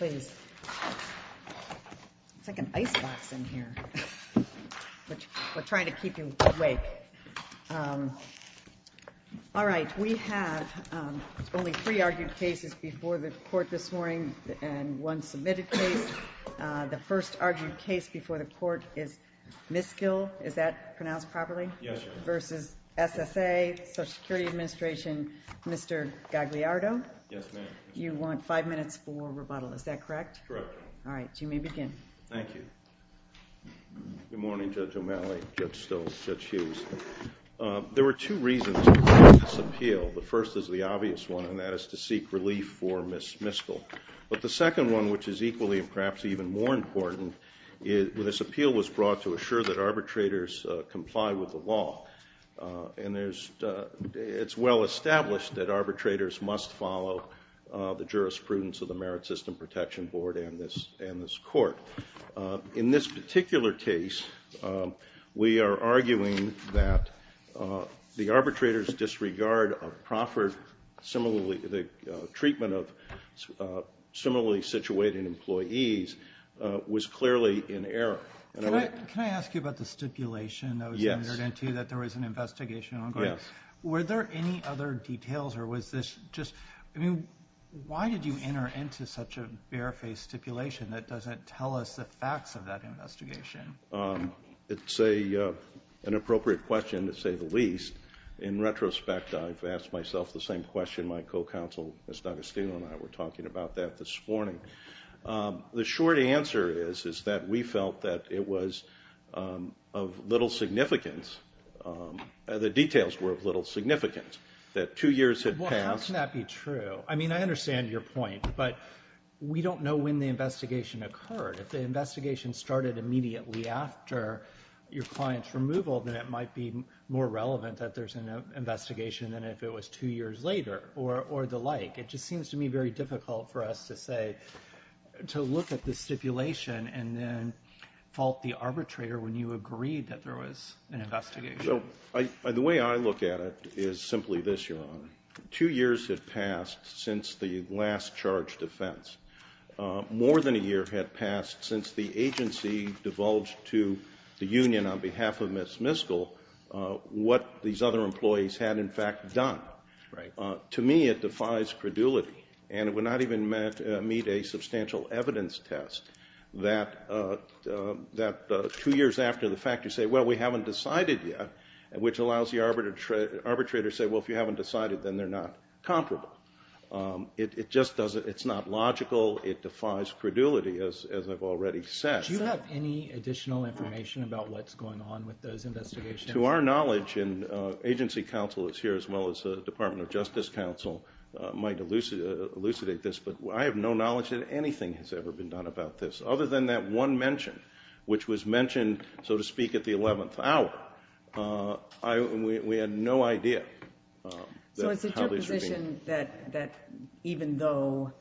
It's like an icebox in here. We're trying to keep you awake. All right, we have only three argued cases before the court this morning and one submitted case. The first argued case before the court is Miskill. Is that pronounced properly? Yes, Your Honor. Versus SSA, Social Security Administration, Mr. Gagliardo. Yes, ma'am. You want five minutes for rebuttal. Is that correct? Correct, Your Honor. All right, you may begin. Thank you. Good morning, Judge O'Malley, Judge Stolz, Judge Hughes. There were two reasons for this appeal. The first is the obvious one, and that is to seek relief for Ms. Miskill. But the second one, which is equally and perhaps even more important, this appeal was brought to assure that arbitrators comply with the law. And it's well established that arbitrators must follow the jurisprudence of the Merit System Protection Board and this court. In this particular case, we are arguing that the arbitrator's disregard of Proffert, the treatment of similarly situated employees, was clearly in error. Can I ask you about the stipulation that was entered into that there was an investigation ongoing? Yes. Were there any other details, or was this just, I mean, why did you enter into such a barefaced stipulation that doesn't tell us the facts of that investigation? It's an appropriate question, to say the least. In retrospect, I've asked myself the same question. My co-counsel, Ms. D'Agostino, and I were talking about that this morning. The short answer is that we felt that it was of little significance, the details were of little significance, that two years had passed. Well, how can that be true? I mean, I understand your point, but we don't know when the investigation occurred. If the investigation started immediately after your client's removal, then it might be more relevant that there's an investigation than if it was two years later or the like. It just seems to me very difficult for us to say, to look at the stipulation and then fault the arbitrator when you agreed that there was an investigation. The way I look at it is simply this, Your Honor. Two years had passed since the last charged offense. More than a year had passed since the agency divulged to the union on behalf of Ms. Miskell what these other employees had, in fact, done. Right. To me, it defies credulity, and it would not even meet a substantial evidence test that two years after the fact you say, well, we haven't decided yet, which allows the arbitrator to say, well, if you haven't decided, then they're not comparable. It's not logical. It defies credulity, as I've already said. Do you have any additional information about what's going on with those investigations? To our knowledge, and agency counsel is here as well as the Department of Justice counsel, might elucidate this, but I have no knowledge that anything has ever been done about this, other than that one mention, which was mentioned, so to speak, at the 11th hour. We had no idea. So it's your position that even though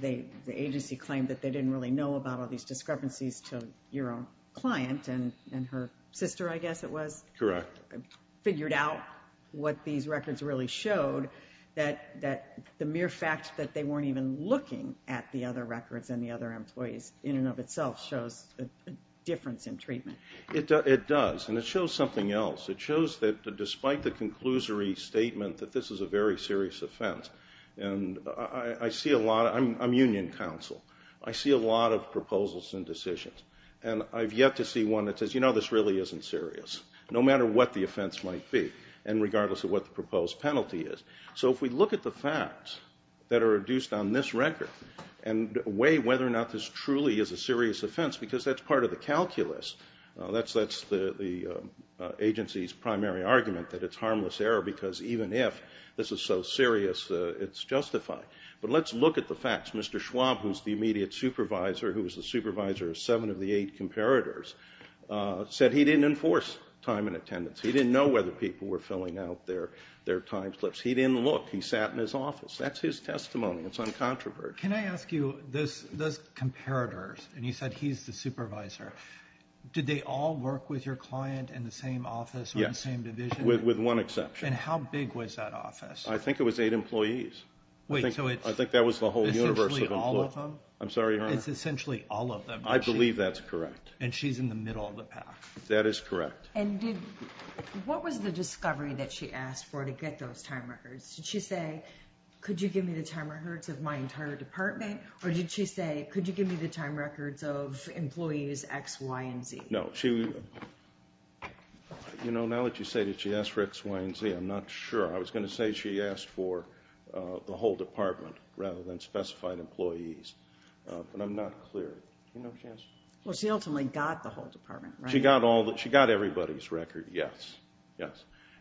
the agency claimed that they didn't really know about all these discrepancies to your own client and her sister, I guess it was. Correct. Figured out what these records really showed, that the mere fact that they weren't even looking at the other records and the other employees in and of itself shows a difference in treatment. It does, and it shows something else. It shows that despite the conclusory statement that this is a very serious offense, and I see a lot, I'm union counsel, I see a lot of proposals and decisions, and I've yet to see one that says, you know, this really isn't serious, no matter what the offense might be, and regardless of what the proposed penalty is. So if we look at the facts that are reduced on this record and weigh whether or not this truly is a serious offense, because that's part of the calculus, that's the agency's primary argument, that it's harmless error, because even if this is so serious, it's justified. But let's look at the facts. Mr. Schwab, who's the immediate supervisor, who was the supervisor of seven of the eight comparators, said he didn't enforce time and attendance. He didn't know whether people were filling out their time slips. He didn't look. He sat in his office. That's his testimony. It's uncontroversial. Can I ask you, those comparators, and you said he's the supervisor, did they all work with your client in the same office or the same division? With one exception. And how big was that office? I think it was eight employees. Wait, so it's essentially all of them? I'm sorry, Your Honor. It's essentially all of them. I believe that's correct. And she's in the middle of the path. That is correct. And what was the discovery that she asked for to get those time records? Did she say, could you give me the time records of my entire department, or did she say, could you give me the time records of employees X, Y, and Z? No. You know, now that you say that she asked for X, Y, and Z, I'm not sure. I was going to say she asked for the whole department rather than specified employees. But I'm not clear. Well, she ultimately got the whole department, right? She got everybody's record, yes.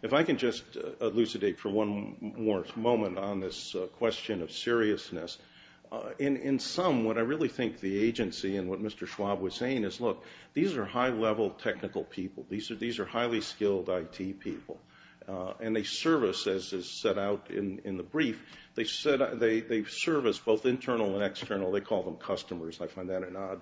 If I can just elucidate for one more moment on this question of seriousness. In sum, what I really think the agency and what Mr. Schwab was saying is, look, these are high-level technical people. These are highly skilled IT people. And they service, as is set out in the brief, they service both internal and external. They call them customers. I find that an odd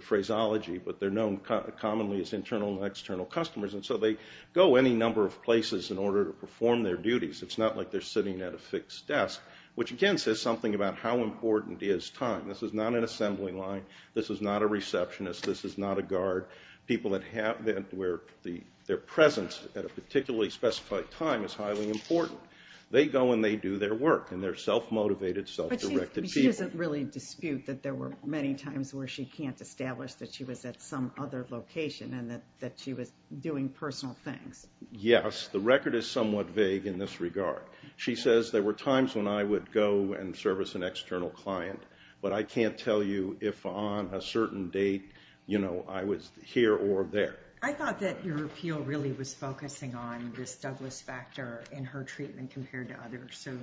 phraseology, but they're known commonly as internal and external customers. And so they go any number of places in order to perform their duties. It's not like they're sitting at a fixed desk, which, again, says something about how important is time. This is not an assembly line. This is not a receptionist. This is not a guard. People that have their presence at a particularly specified time is highly important. They go and they do their work, and they're self-motivated, self-directed people. But she doesn't really dispute that there were many times where she can't establish that she was at some other location and that she was doing personal things. Yes, the record is somewhat vague in this regard. She says there were times when I would go and service an external client, but I can't tell you if on a certain date I was here or there. I thought that your appeal really was focusing on this Douglas factor in her treatment compared to others. So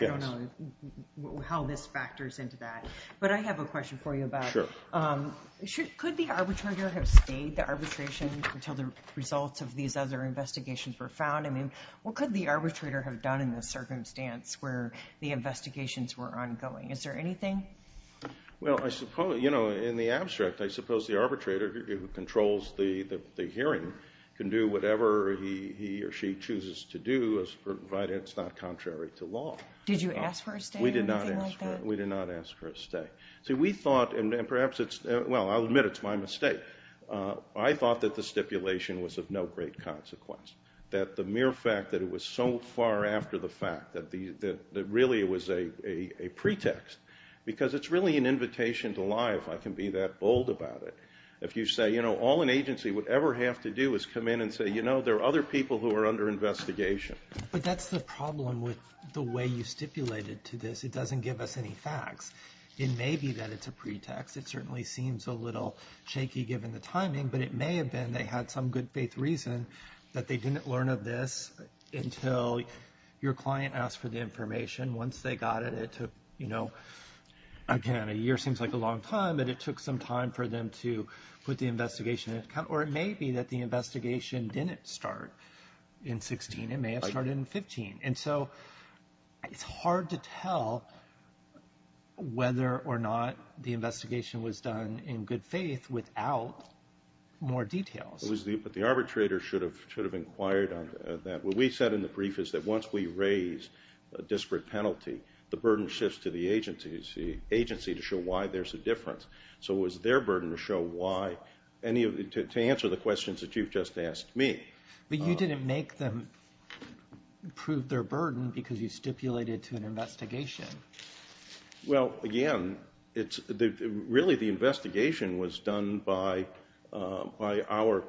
I don't know how this factors into that. But I have a question for you about could the arbitrator have stayed the arbitration until the results of these other investigations were found? I mean, what could the arbitrator have done in this circumstance where the investigations were ongoing? Is there anything? Well, I suppose, you know, in the abstract, I suppose the arbitrator who controls the hearing can do whatever he or she chooses to do as provided it's not contrary to law. Did you ask for a stay or anything like that? We did not ask for a stay. See, we thought, and perhaps it's, well, I'll admit it's my mistake. I thought that the stipulation was of no great consequence, that the mere fact that it was so far after the fact that really it was a pretext because it's really an invitation to lie if I can be that bold about it. If you say, you know, all an agency would ever have to do is come in and say, you know, there are other people who are under investigation. But that's the problem with the way you stipulated to this. It doesn't give us any facts. It may be that it's a pretext. It certainly seems a little shaky given the timing, but it may have been they had some good faith reason that they didn't learn of this until your client asked for the information. Once they got it, it took, you know, again, a year seems like a long time, but it took some time for them to put the investigation in. Or it may be that the investigation didn't start in 16. It may have started in 15. And so it's hard to tell whether or not the investigation was done in good faith without more details. But the arbitrator should have inquired on that. What we said in the brief is that once we raise a disparate penalty, the burden shifts to the agency to show why there's a difference. So it was their burden to show why, to answer the questions that you've just asked me. But you didn't make them prove their burden because you stipulated to an investigation. Well, again, really the investigation was done by our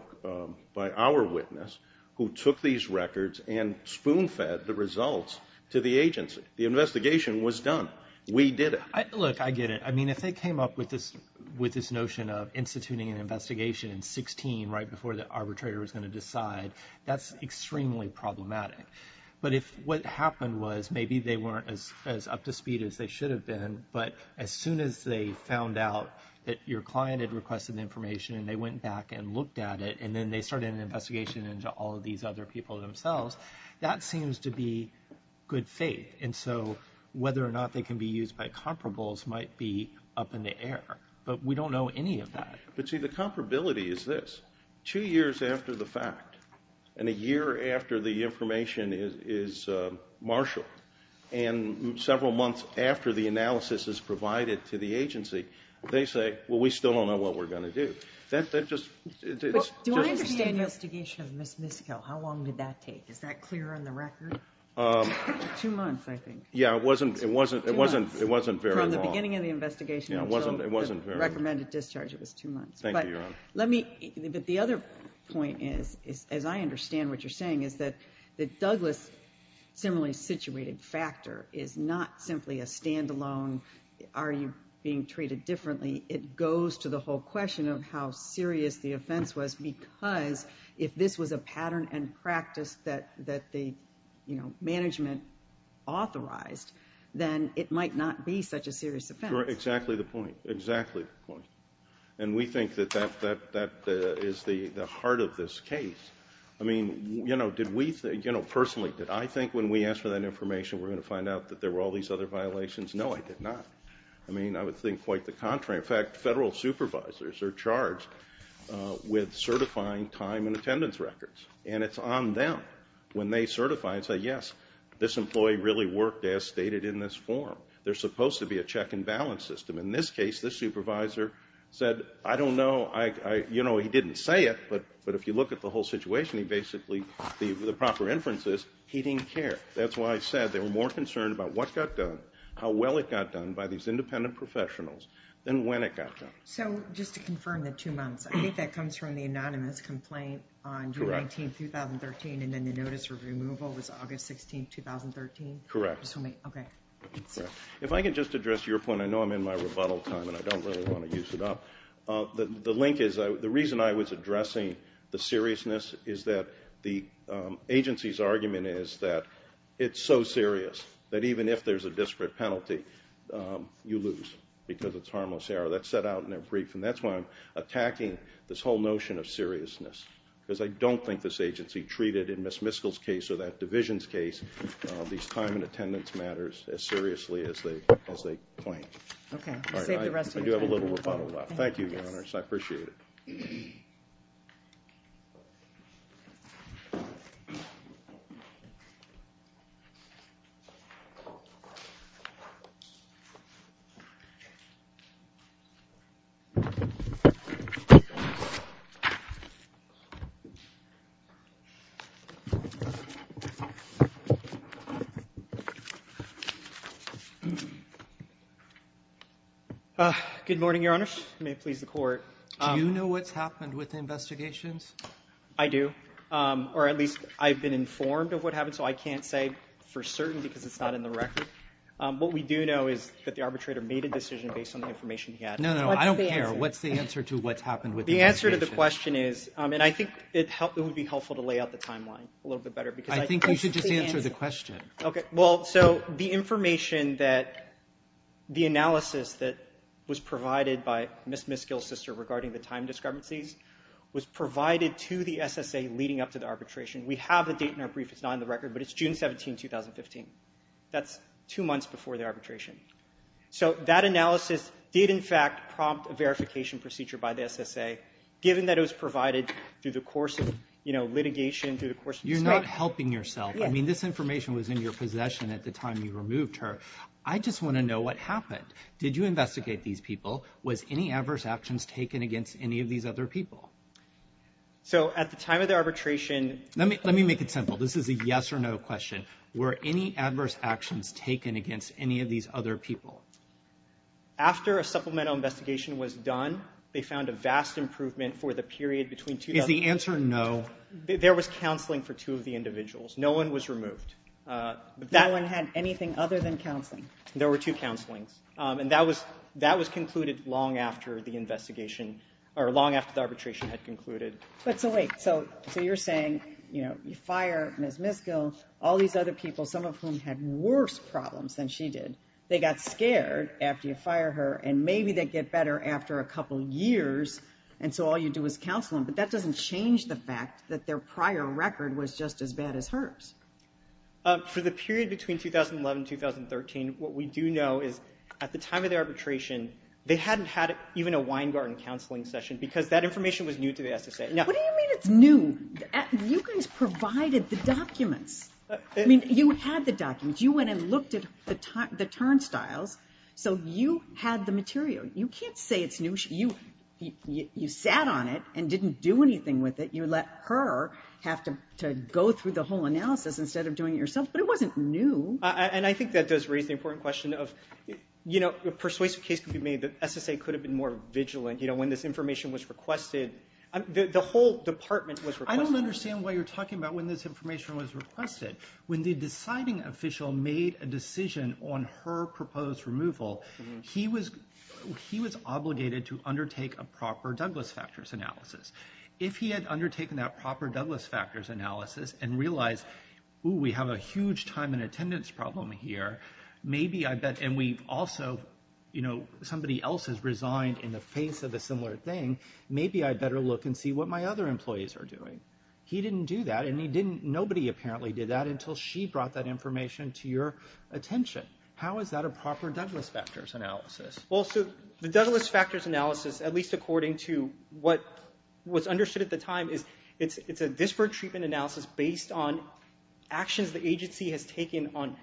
witness who took these records and spoon-fed the results to the agency. The investigation was done. We did it. Look, I get it. I mean, if they came up with this notion of instituting an investigation in 16 right before the arbitrator was going to decide, that's extremely problematic. But if what happened was maybe they weren't as up to speed as they should have been, but as soon as they found out that your client had requested the information and they went back and looked at it, and then they started an investigation into all of these other people themselves, that seems to be good faith. And so whether or not they can be used by comparables might be up in the air. But we don't know any of that. But, see, the comparability is this. And a year after the information is marshaled and several months after the analysis is provided to the agency, they say, well, we still don't know what we're going to do. Do I understand the investigation of Ms. Miskell? How long did that take? Is that clear on the record? Two months, I think. Yeah, it wasn't very long. From the beginning of the investigation until the recommended discharge, it was two months. Thank you, Your Honor. But the other point is, as I understand what you're saying, is that Douglas' similarly situated factor is not simply a stand-alone, are you being treated differently? It goes to the whole question of how serious the offense was because if this was a pattern and practice that the management authorized, then it might not be such a serious offense. Exactly the point. Exactly the point. And we think that that is the heart of this case. I mean, you know, personally, did I think when we asked for that information we were going to find out that there were all these other violations? No, I did not. I mean, I would think quite the contrary. In fact, federal supervisors are charged with certifying time and attendance records, and it's on them when they certify and say, yes, this employee really worked as stated in this form. There's supposed to be a check and balance system. In this case, the supervisor said, I don't know. You know, he didn't say it, but if you look at the whole situation, basically the proper inference is he didn't care. That's why I said they were more concerned about what got done, how well it got done by these independent professionals than when it got done. So just to confirm the two months, I think that comes from the anonymous complaint on June 19, 2013, and then the notice of removal was August 16, 2013? Correct. Okay. If I can just address your point. I know I'm in my rebuttal time, and I don't really want to use it up. The link is the reason I was addressing the seriousness is that the agency's argument is that it's so serious that even if there's a disparate penalty, you lose because it's harmless error. That's set out in their brief, and that's why I'm attacking this whole notion of seriousness, because I don't think this agency treated in Ms. Miskell's case or that division's case these time and attendance matters as seriously as they claim. Okay. Save the rest of your time. I do have a little rebuttal left. Thank you, Your Honors. I appreciate it. Good morning, Your Honors. May it please the Court. Do you know what's happened with the investigations? I do, or at least I've been informed of what happened, so I can't say for certain because it's not in the record. What we do know is that the arbitrator made a decision based on the information he had. No, no, I don't care. What's the answer to what's happened with the investigation? The answer to the question is, and I think it would be helpful to lay out the timeline a little bit better. I think you should just answer the question. Okay. Well, so the information that the analysis that was provided by Ms. Miskell's sister regarding the time discrepancies was provided to the SSA leading up to the arbitration. We have a date in our brief. It's not on the record, but it's June 17, 2015. That's two months before the arbitration. So that analysis did, in fact, prompt a verification procedure by the SSA, You're not helping yourself. I mean, this information was in your possession at the time you removed her. I just want to know what happened. Did you investigate these people? Was any adverse actions taken against any of these other people? So at the time of the arbitration— Let me make it simple. This is a yes or no question. Were any adverse actions taken against any of these other people? After a supplemental investigation was done, they found a vast improvement for the period between— Is the answer no? No. There was counseling for two of the individuals. No one was removed. No one had anything other than counseling? There were two counselings, and that was concluded long after the investigation— or long after the arbitration had concluded. But so wait. So you're saying, you know, you fire Ms. Miskell, all these other people, some of whom had worse problems than she did, they got scared after you fire her, and maybe they'd get better after a couple years, and so all you do is counsel them. But that doesn't change the fact that their prior record was just as bad as hers. For the period between 2011 and 2013, what we do know is at the time of the arbitration, they hadn't had even a Weingarten counseling session because that information was new to the SSA. What do you mean it's new? You guys provided the documents. I mean, you had the documents. You went and looked at the turnstiles, so you had the material. You can't say it's new. You sat on it and didn't do anything with it. You let her have to go through the whole analysis instead of doing it yourself, but it wasn't new. And I think that does raise the important question of, you know, a persuasive case could be made that SSA could have been more vigilant, you know, when this information was requested. The whole department was requested. I don't understand why you're talking about when this information was requested. When the deciding official made a decision on her proposed removal, he was obligated to undertake a proper Douglas factors analysis. If he had undertaken that proper Douglas factors analysis and realized, ooh, we have a huge time and attendance problem here, maybe I bet, and we've also, you know, somebody else has resigned in the face of a similar thing, maybe I better look and see what my other employees are doing. He didn't do that, and nobody apparently did that until she brought that information to your attention. How is that a proper Douglas factors analysis? Well, so the Douglas factors analysis, at least according to what was understood at the time, is it's a disparate treatment analysis based on actions the agency has taken on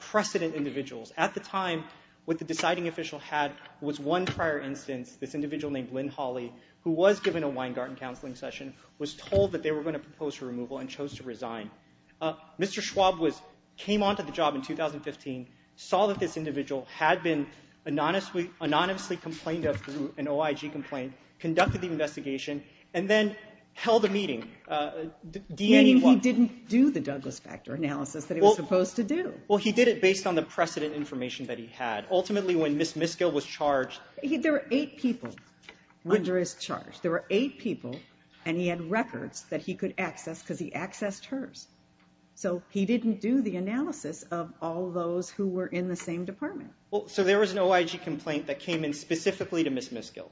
precedent individuals. At the time, what the deciding official had was one prior instance, this individual named Lynn Hawley, who was given a Weingarten counseling session, was told that they were going to propose her removal and chose to resign. Mr. Schwab came onto the job in 2015, saw that this individual had been anonymously complained of through an OIG complaint, conducted the investigation, and then held a meeting. Meaning he didn't do the Douglas factor analysis that he was supposed to do. Well, he did it based on the precedent information that he had. Ultimately, when Ms. Miskell was charged... There were eight people under his charge. There were eight people, and he had records that he could access because he accessed hers. So he didn't do the analysis of all those who were in the same department. So there was an OIG complaint that came in specifically to Ms. Miskell.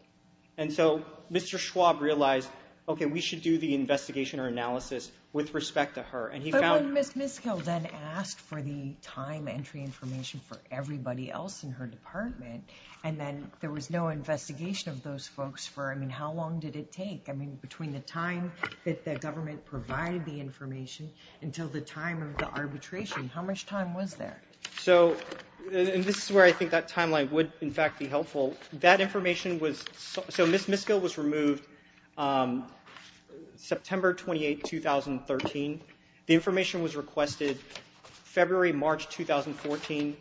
And so Mr. Schwab realized, okay, we should do the investigation or analysis with respect to her. But when Ms. Miskell then asked for the time entry information for everybody else in her department, and then there was no investigation of those folks for, I mean, how long did it take? I mean, between the time that the government provided the information until the time of the arbitration, how much time was there? So this is where I think that timeline would, in fact, be helpful. That information was... So Ms. Miskell was removed September 28, 2013. The information was requested February, March 2014.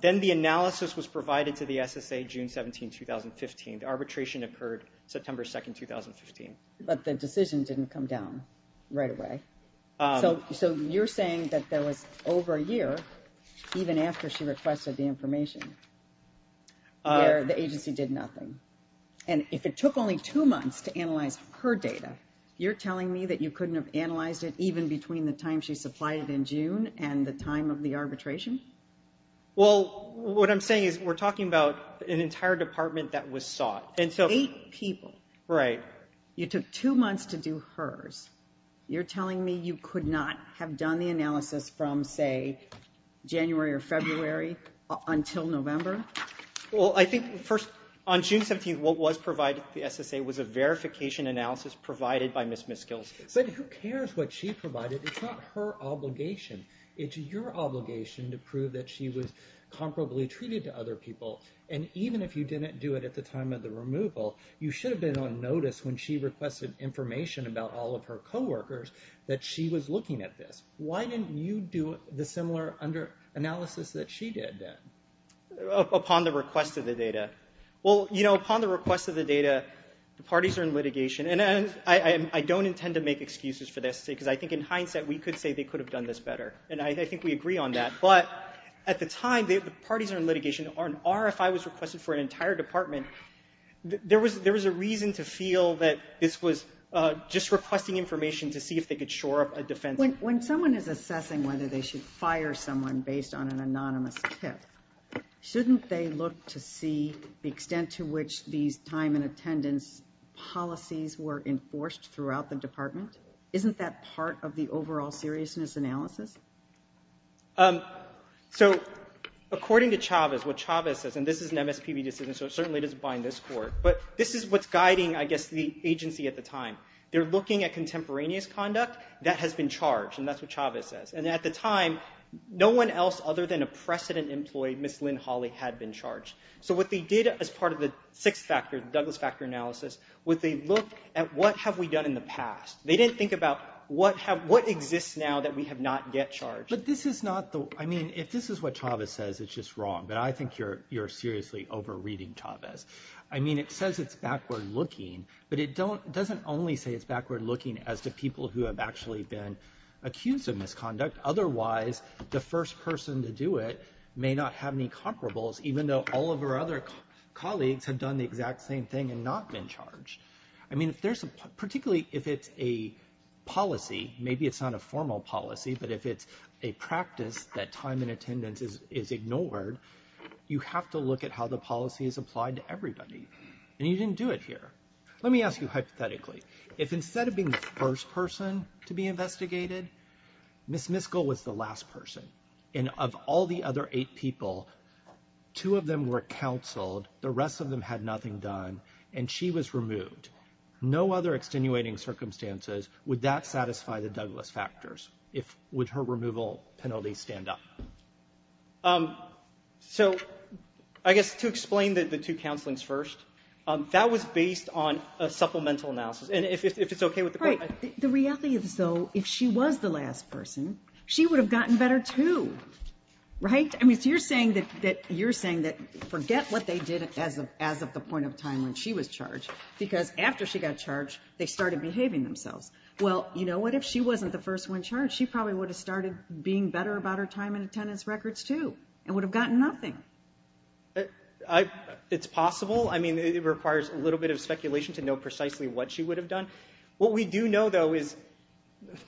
Then the analysis was provided to the SSA June 17, 2015. The arbitration occurred September 2, 2015. But the decision didn't come down right away. So you're saying that there was over a year, even after she requested the information, where the agency did nothing. And if it took only two months to analyze her data, you're telling me that you couldn't have analyzed it even between the time she supplied it in June and the time of the arbitration? Well, what I'm saying is we're talking about an entire department that was sought. Eight people. Right. You took two months to do hers. You're telling me you could not have done the analysis from, say, January or February until November? Well, I think first, on June 17, what was provided to the SSA was a verification analysis provided by Ms. Miskell. But who cares what she provided? It's not her obligation. It's your obligation to prove that she was comparably treated to other people. And even if you didn't do it at the time of the removal, you should have been on notice when she requested information about all of her coworkers that she was looking at this. Why didn't you do the similar analysis that she did then? Upon the request of the data. Well, you know, upon the request of the data, the parties are in litigation. And I don't intend to make excuses for this, because I think in hindsight we could say they could have done this better. And I think we agree on that. But at the time, the parties are in litigation. An RFI was requested for an entire department. There was a reason to feel that this was just requesting information to see if they could shore up a defense. When someone is assessing whether they should fire someone based on an anonymous tip, shouldn't they look to see the extent to which these time and attendance policies were enforced throughout the department? Isn't that part of the overall seriousness analysis? So according to Chavez, what Chavez says, and this is an MSPB decision, so it certainly doesn't bind this court. But this is what's guiding, I guess, the agency at the time. They're looking at contemporaneous conduct that has been charged, and that's what Chavez says. And at the time, no one else other than a precedent employee, Ms. Lynn Hawley, had been charged. So what they did as part of the sixth factor, the Douglas factor analysis, was they looked at what have we done in the past. They didn't think about what exists now that we have not yet charged. But this is not the – I mean, if this is what Chavez says, it's just wrong. But I think you're seriously over-reading Chavez. I mean, it says it's backward-looking, but it doesn't only say it's backward-looking as to people who have actually been accused of misconduct. Otherwise, the first person to do it may not have any comparables, even though all of her other colleagues have done the exact same thing and not been charged. I mean, particularly if it's a policy, maybe it's not a formal policy, but if it's a practice that time and attendance is ignored, you have to look at how the policy is applied to everybody. And you didn't do it here. Let me ask you hypothetically. If instead of being the first person to be investigated, Ms. Miskell was the last person, and of all the other eight people, two of them were counseled, the rest of them had nothing done, and she was removed, no other extenuating circumstances, would that satisfy the Douglas factors? Would her removal penalty stand up? So I guess to explain the two counselings first, that was based on a supplemental analysis. And if it's okay with the court, I – Right. The reality is, though, if she was the last person, she would have gotten better too, right? I mean, so you're saying that forget what they did as of the point of time when she was charged, because after she got charged, they started behaving themselves. Well, you know what? If she wasn't the first one charged, she probably would have started being better about her time and attendance records too and would have gotten nothing. It's possible. I mean, it requires a little bit of speculation to know precisely what she would have done. What we do know, though, is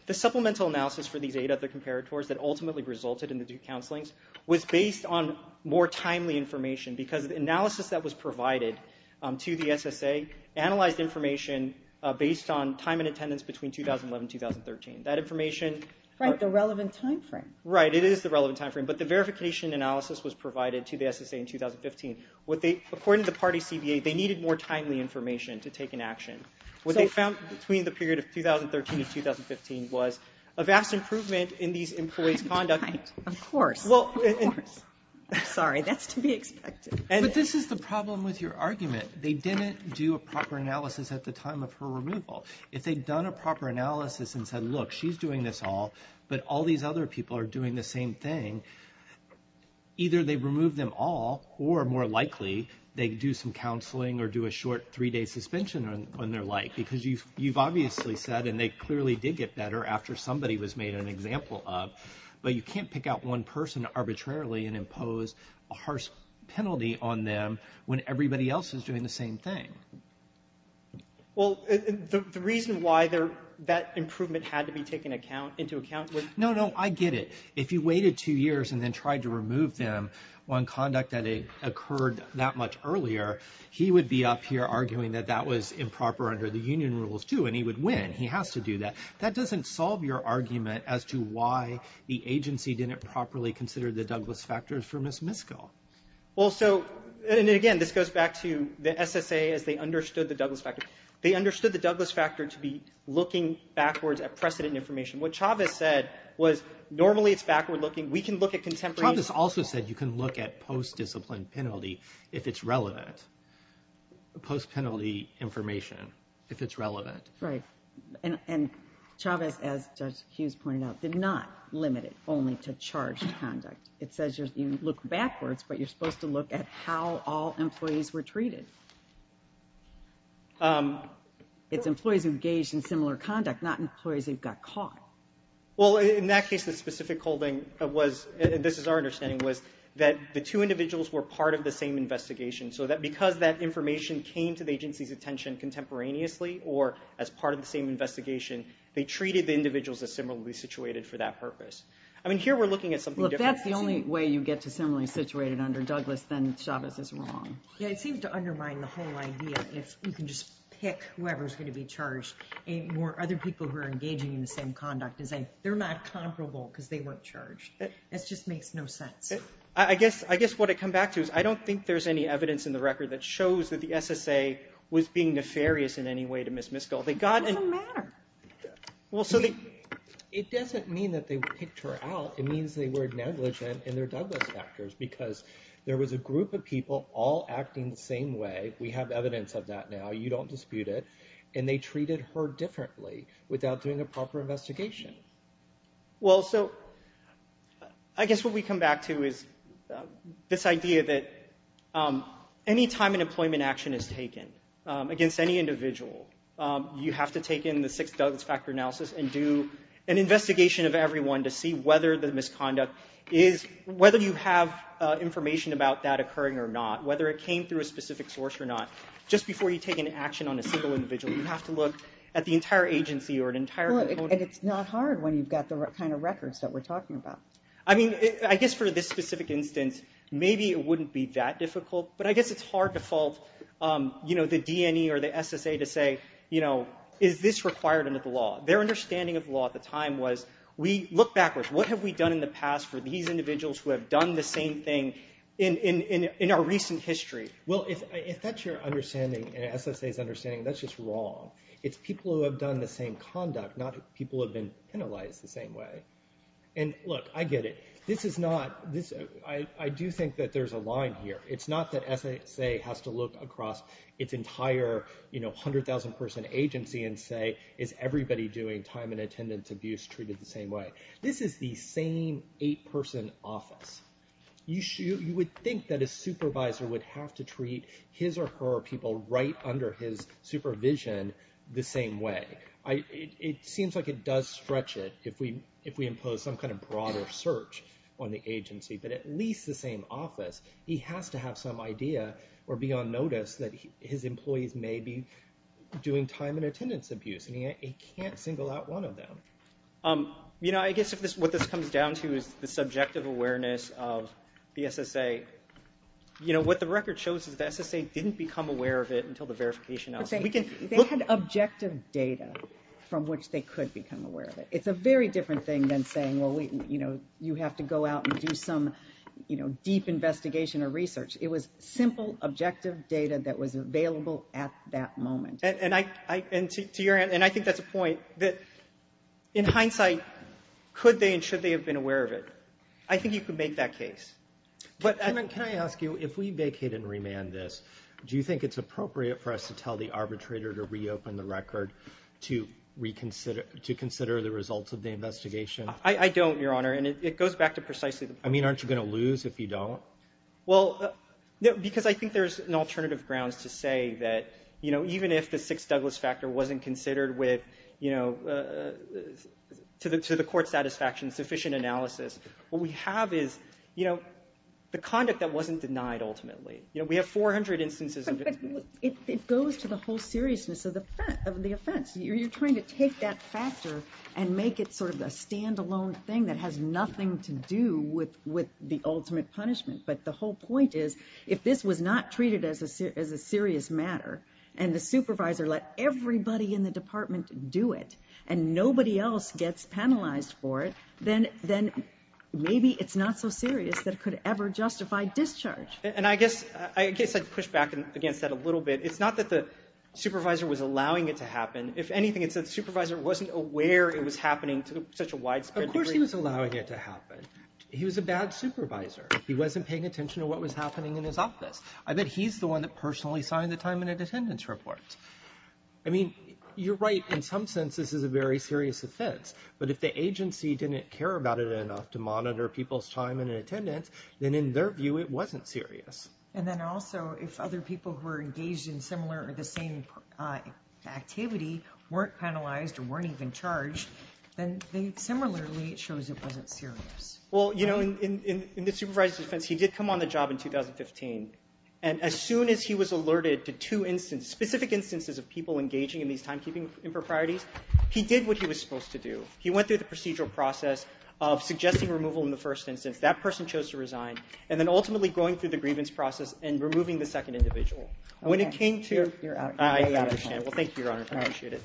the supplemental analysis for these eight other comparators that ultimately resulted in the two counselings was based on more timely information because the analysis that was provided to the SSA analyzed information based on time and attendance between 2011 and 2013. That information – Right. The relevant timeframe. Right. It is the relevant timeframe, but the verification analysis was provided to the SSA in 2015. According to the party CBA, they needed more timely information to take an action. What they found between the period of 2013 and 2015 was a vast improvement in these employees' conduct. Of course. Of course. Sorry. That's to be expected. But this is the problem with your argument. They didn't do a proper analysis at the time of her removal. If they'd done a proper analysis and said, look, she's doing this all, but all these other people are doing the same thing, either they'd remove them all or, more likely, they'd do some counseling or do a short three-day suspension when they're like, because you've obviously said, and they clearly did get better after somebody was made an example of, but you can't pick out one person arbitrarily and impose a harsh penalty on them when everybody else is doing the same thing. Well, the reason why that improvement had to be taken into account was – No, no, I get it. If you waited two years and then tried to remove them on conduct that occurred that much earlier, he would be up here arguing that that was improper under the union rules, too, and he would win. He has to do that. That doesn't solve your argument as to why the agency didn't properly consider the Douglas factor for Ms. Miskell. Well, so – and again, this goes back to the SSA as they understood the Douglas factor. They understood the Douglas factor to be looking backwards at precedent information. What Chavez said was, normally it's backward-looking. We can look at contemporary – Chavez also said you can look at post-discipline penalty if it's relevant, post-penalty information if it's relevant. Right. And Chavez, as Judge Hughes pointed out, did not limit it only to charged conduct. It says you look backwards, but you're supposed to look at how all employees were treated. It's employees engaged in similar conduct, not employees who got caught. Well, in that case, the specific holding was – this is our understanding – was that the two individuals were part of the same investigation, so that because that information came to the agency's attention contemporaneously or as part of the same investigation, they treated the individuals as similarly situated for that purpose. I mean, here we're looking at something different. Well, if that's the only way you get to similarly situated under Douglas, then Chavez is wrong. Yeah, it seems to undermine the whole idea if you can just pick whoever's going to be charged or other people who are engaging in the same conduct and say they're not comparable because they weren't charged. It just makes no sense. I guess what I come back to is I don't think there's any evidence in the record that shows that the SSA was being nefarious in any way to Ms. Miskell. It doesn't matter. It doesn't mean that they picked her out. It means they were negligent in their Douglas factors because there was a group of people all acting the same way. We have evidence of that now. You don't dispute it. And they treated her differently without doing a proper investigation. Well, so I guess what we come back to is this idea that any time an employment action is taken against any individual, you have to take in the six Douglas factor analysis and do an investigation of everyone to see whether the misconduct is... whether you have information about that occurring or not, whether it came through a specific source or not. Just before you take an action on a single individual, you have to look at the entire agency or an entire... And it's not hard when you've got the kind of records that we're talking about. I mean, I guess for this specific instance, maybe it wouldn't be that difficult, but I guess it's hard to fault, you know, the DNE or the SSA to say, you know, is this required under the law? Their understanding of the law at the time was, we look backwards. What have we done in the past for these individuals who have done the same thing in our recent history? Well, if that's your understanding and SSA's understanding, that's just wrong. It's people who have done the same conduct, not people who have been penalized the same way. And look, I get it. This is not... I do think that there's a line here. It's not that SSA has to look across its entire, you know, 100,000-person agency and say, is everybody doing time and attendance abuse treated the same way? This is the same eight-person office. You would think that a supervisor would have to treat his or her people right under his supervision the same way. It seems like it does stretch it if we impose some kind of broader search on the agency, but at least the same office, he has to have some idea or be on notice that his employees may be doing time and attendance abuse, and he can't single out one of them. You know, I guess what this comes down to is the subjective awareness of the SSA. You know, what the record shows is the SSA didn't become aware of it until the verification... They had objective data from which they could become aware of it. It's a very different thing than saying, well, you know, you have to go out and do some, you know, deep investigation or research. It was simple, objective data that was available at that moment. And to your end, and I think that's a point, that in hindsight, could they and should they have been aware of it? I think you could make that case. Can I ask you, if we vacate and remand this, do you think it's appropriate for us to tell the arbitrator to reopen the record to reconsider the results of the investigation? I don't, Your Honor, and it goes back to precisely... I mean, aren't you going to lose if you don't? Well, no, because I think there's an alternative grounds to say that, you know, even if the Sixth Douglas factor wasn't considered with, you know, to the court's satisfaction, sufficient analysis, what we have is, you know, the conduct that wasn't denied ultimately. You know, we have 400 instances... But it goes to the whole seriousness of the offense. You're trying to take that factor and make it sort of a standalone thing that has nothing to do with the ultimate punishment. But the whole point is, if this was not treated as a serious matter and the supervisor let everybody in the department do it and nobody else gets penalized for it, then maybe it's not so serious that it could ever justify discharge. And I guess I'd push back against that a little bit. It's not that the supervisor was allowing it to happen. If anything, it's that the supervisor wasn't aware it was happening to such a widespread degree. Of course he was allowing it to happen. He was a bad supervisor. He wasn't paying attention to what was happening in his office. I bet he's the one that personally signed the time and attendance report. I mean, you're right. In some sense, this is a very serious offense. But if the agency didn't care about it enough to monitor people's time and attendance, then in their view, it wasn't serious. And then also, if other people who were engaged in similar or the same activity weren't penalized or weren't even charged, then similarly, it shows it wasn't serious. Well, you know, in the supervisor's defense, he did come on the job in 2015. And as soon as he was alerted to two specific instances of people engaging in these timekeeping improprieties, he did what he was supposed to do. of suggesting removal in the first instance. That person chose to resign. And then ultimately going through the grievance process and removing the second individual. When it came to... You're out. I understand. Well, thank you, Your Honor. I appreciate it.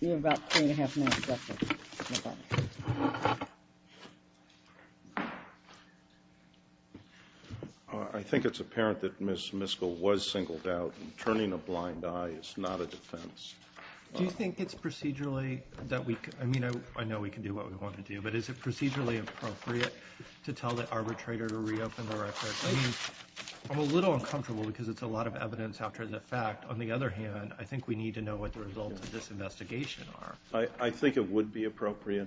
You have about three and a half minutes left. I think it's apparent that Ms. Miskell was singled out. Turning a blind eye is not a defense. Do you think it's procedurally that we... I mean, I know we can do what we want to do, but is it procedurally appropriate to tell the arbitrator to reopen the record? I mean, I'm a little uncomfortable because it's a lot of evidence after the fact. On the other hand, I think we need to know what the results of this investigation are. I think it would be appropriate.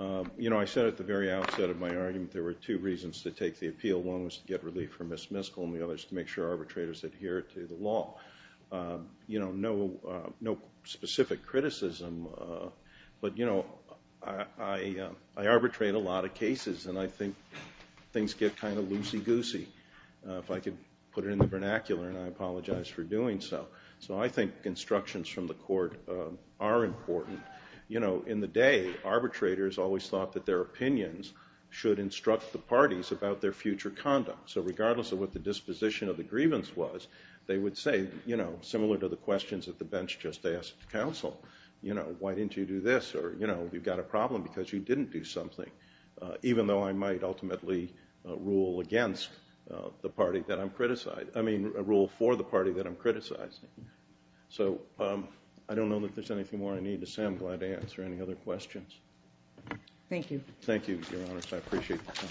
You know, I said at the very outset of my argument there were two reasons to take the appeal. One was to get relief for Ms. Miskell and the other is to make sure arbitrators adhere to the law. You know, no specific criticism, but, you know, I arbitrate a lot of cases and I think things get kind of loosey-goosey if I could put it in the vernacular, and I apologize for doing so. So I think instructions from the court are important. You know, in the day, arbitrators always thought that their opinions should instruct the parties about their future conduct. So regardless of what the disposition of the grievance was, they would say, you know, similar to the questions that the bench just asked counsel. You know, why didn't you do this? Or, you know, you've got a problem because you didn't do something. Even though I might ultimately rule against the party that I'm criticizing. I mean, rule for the party that I'm criticizing. So I don't know that there's anything more I need to say. I'm glad to answer any other questions. Thank you. Thank you, Your Honor. I appreciate the time.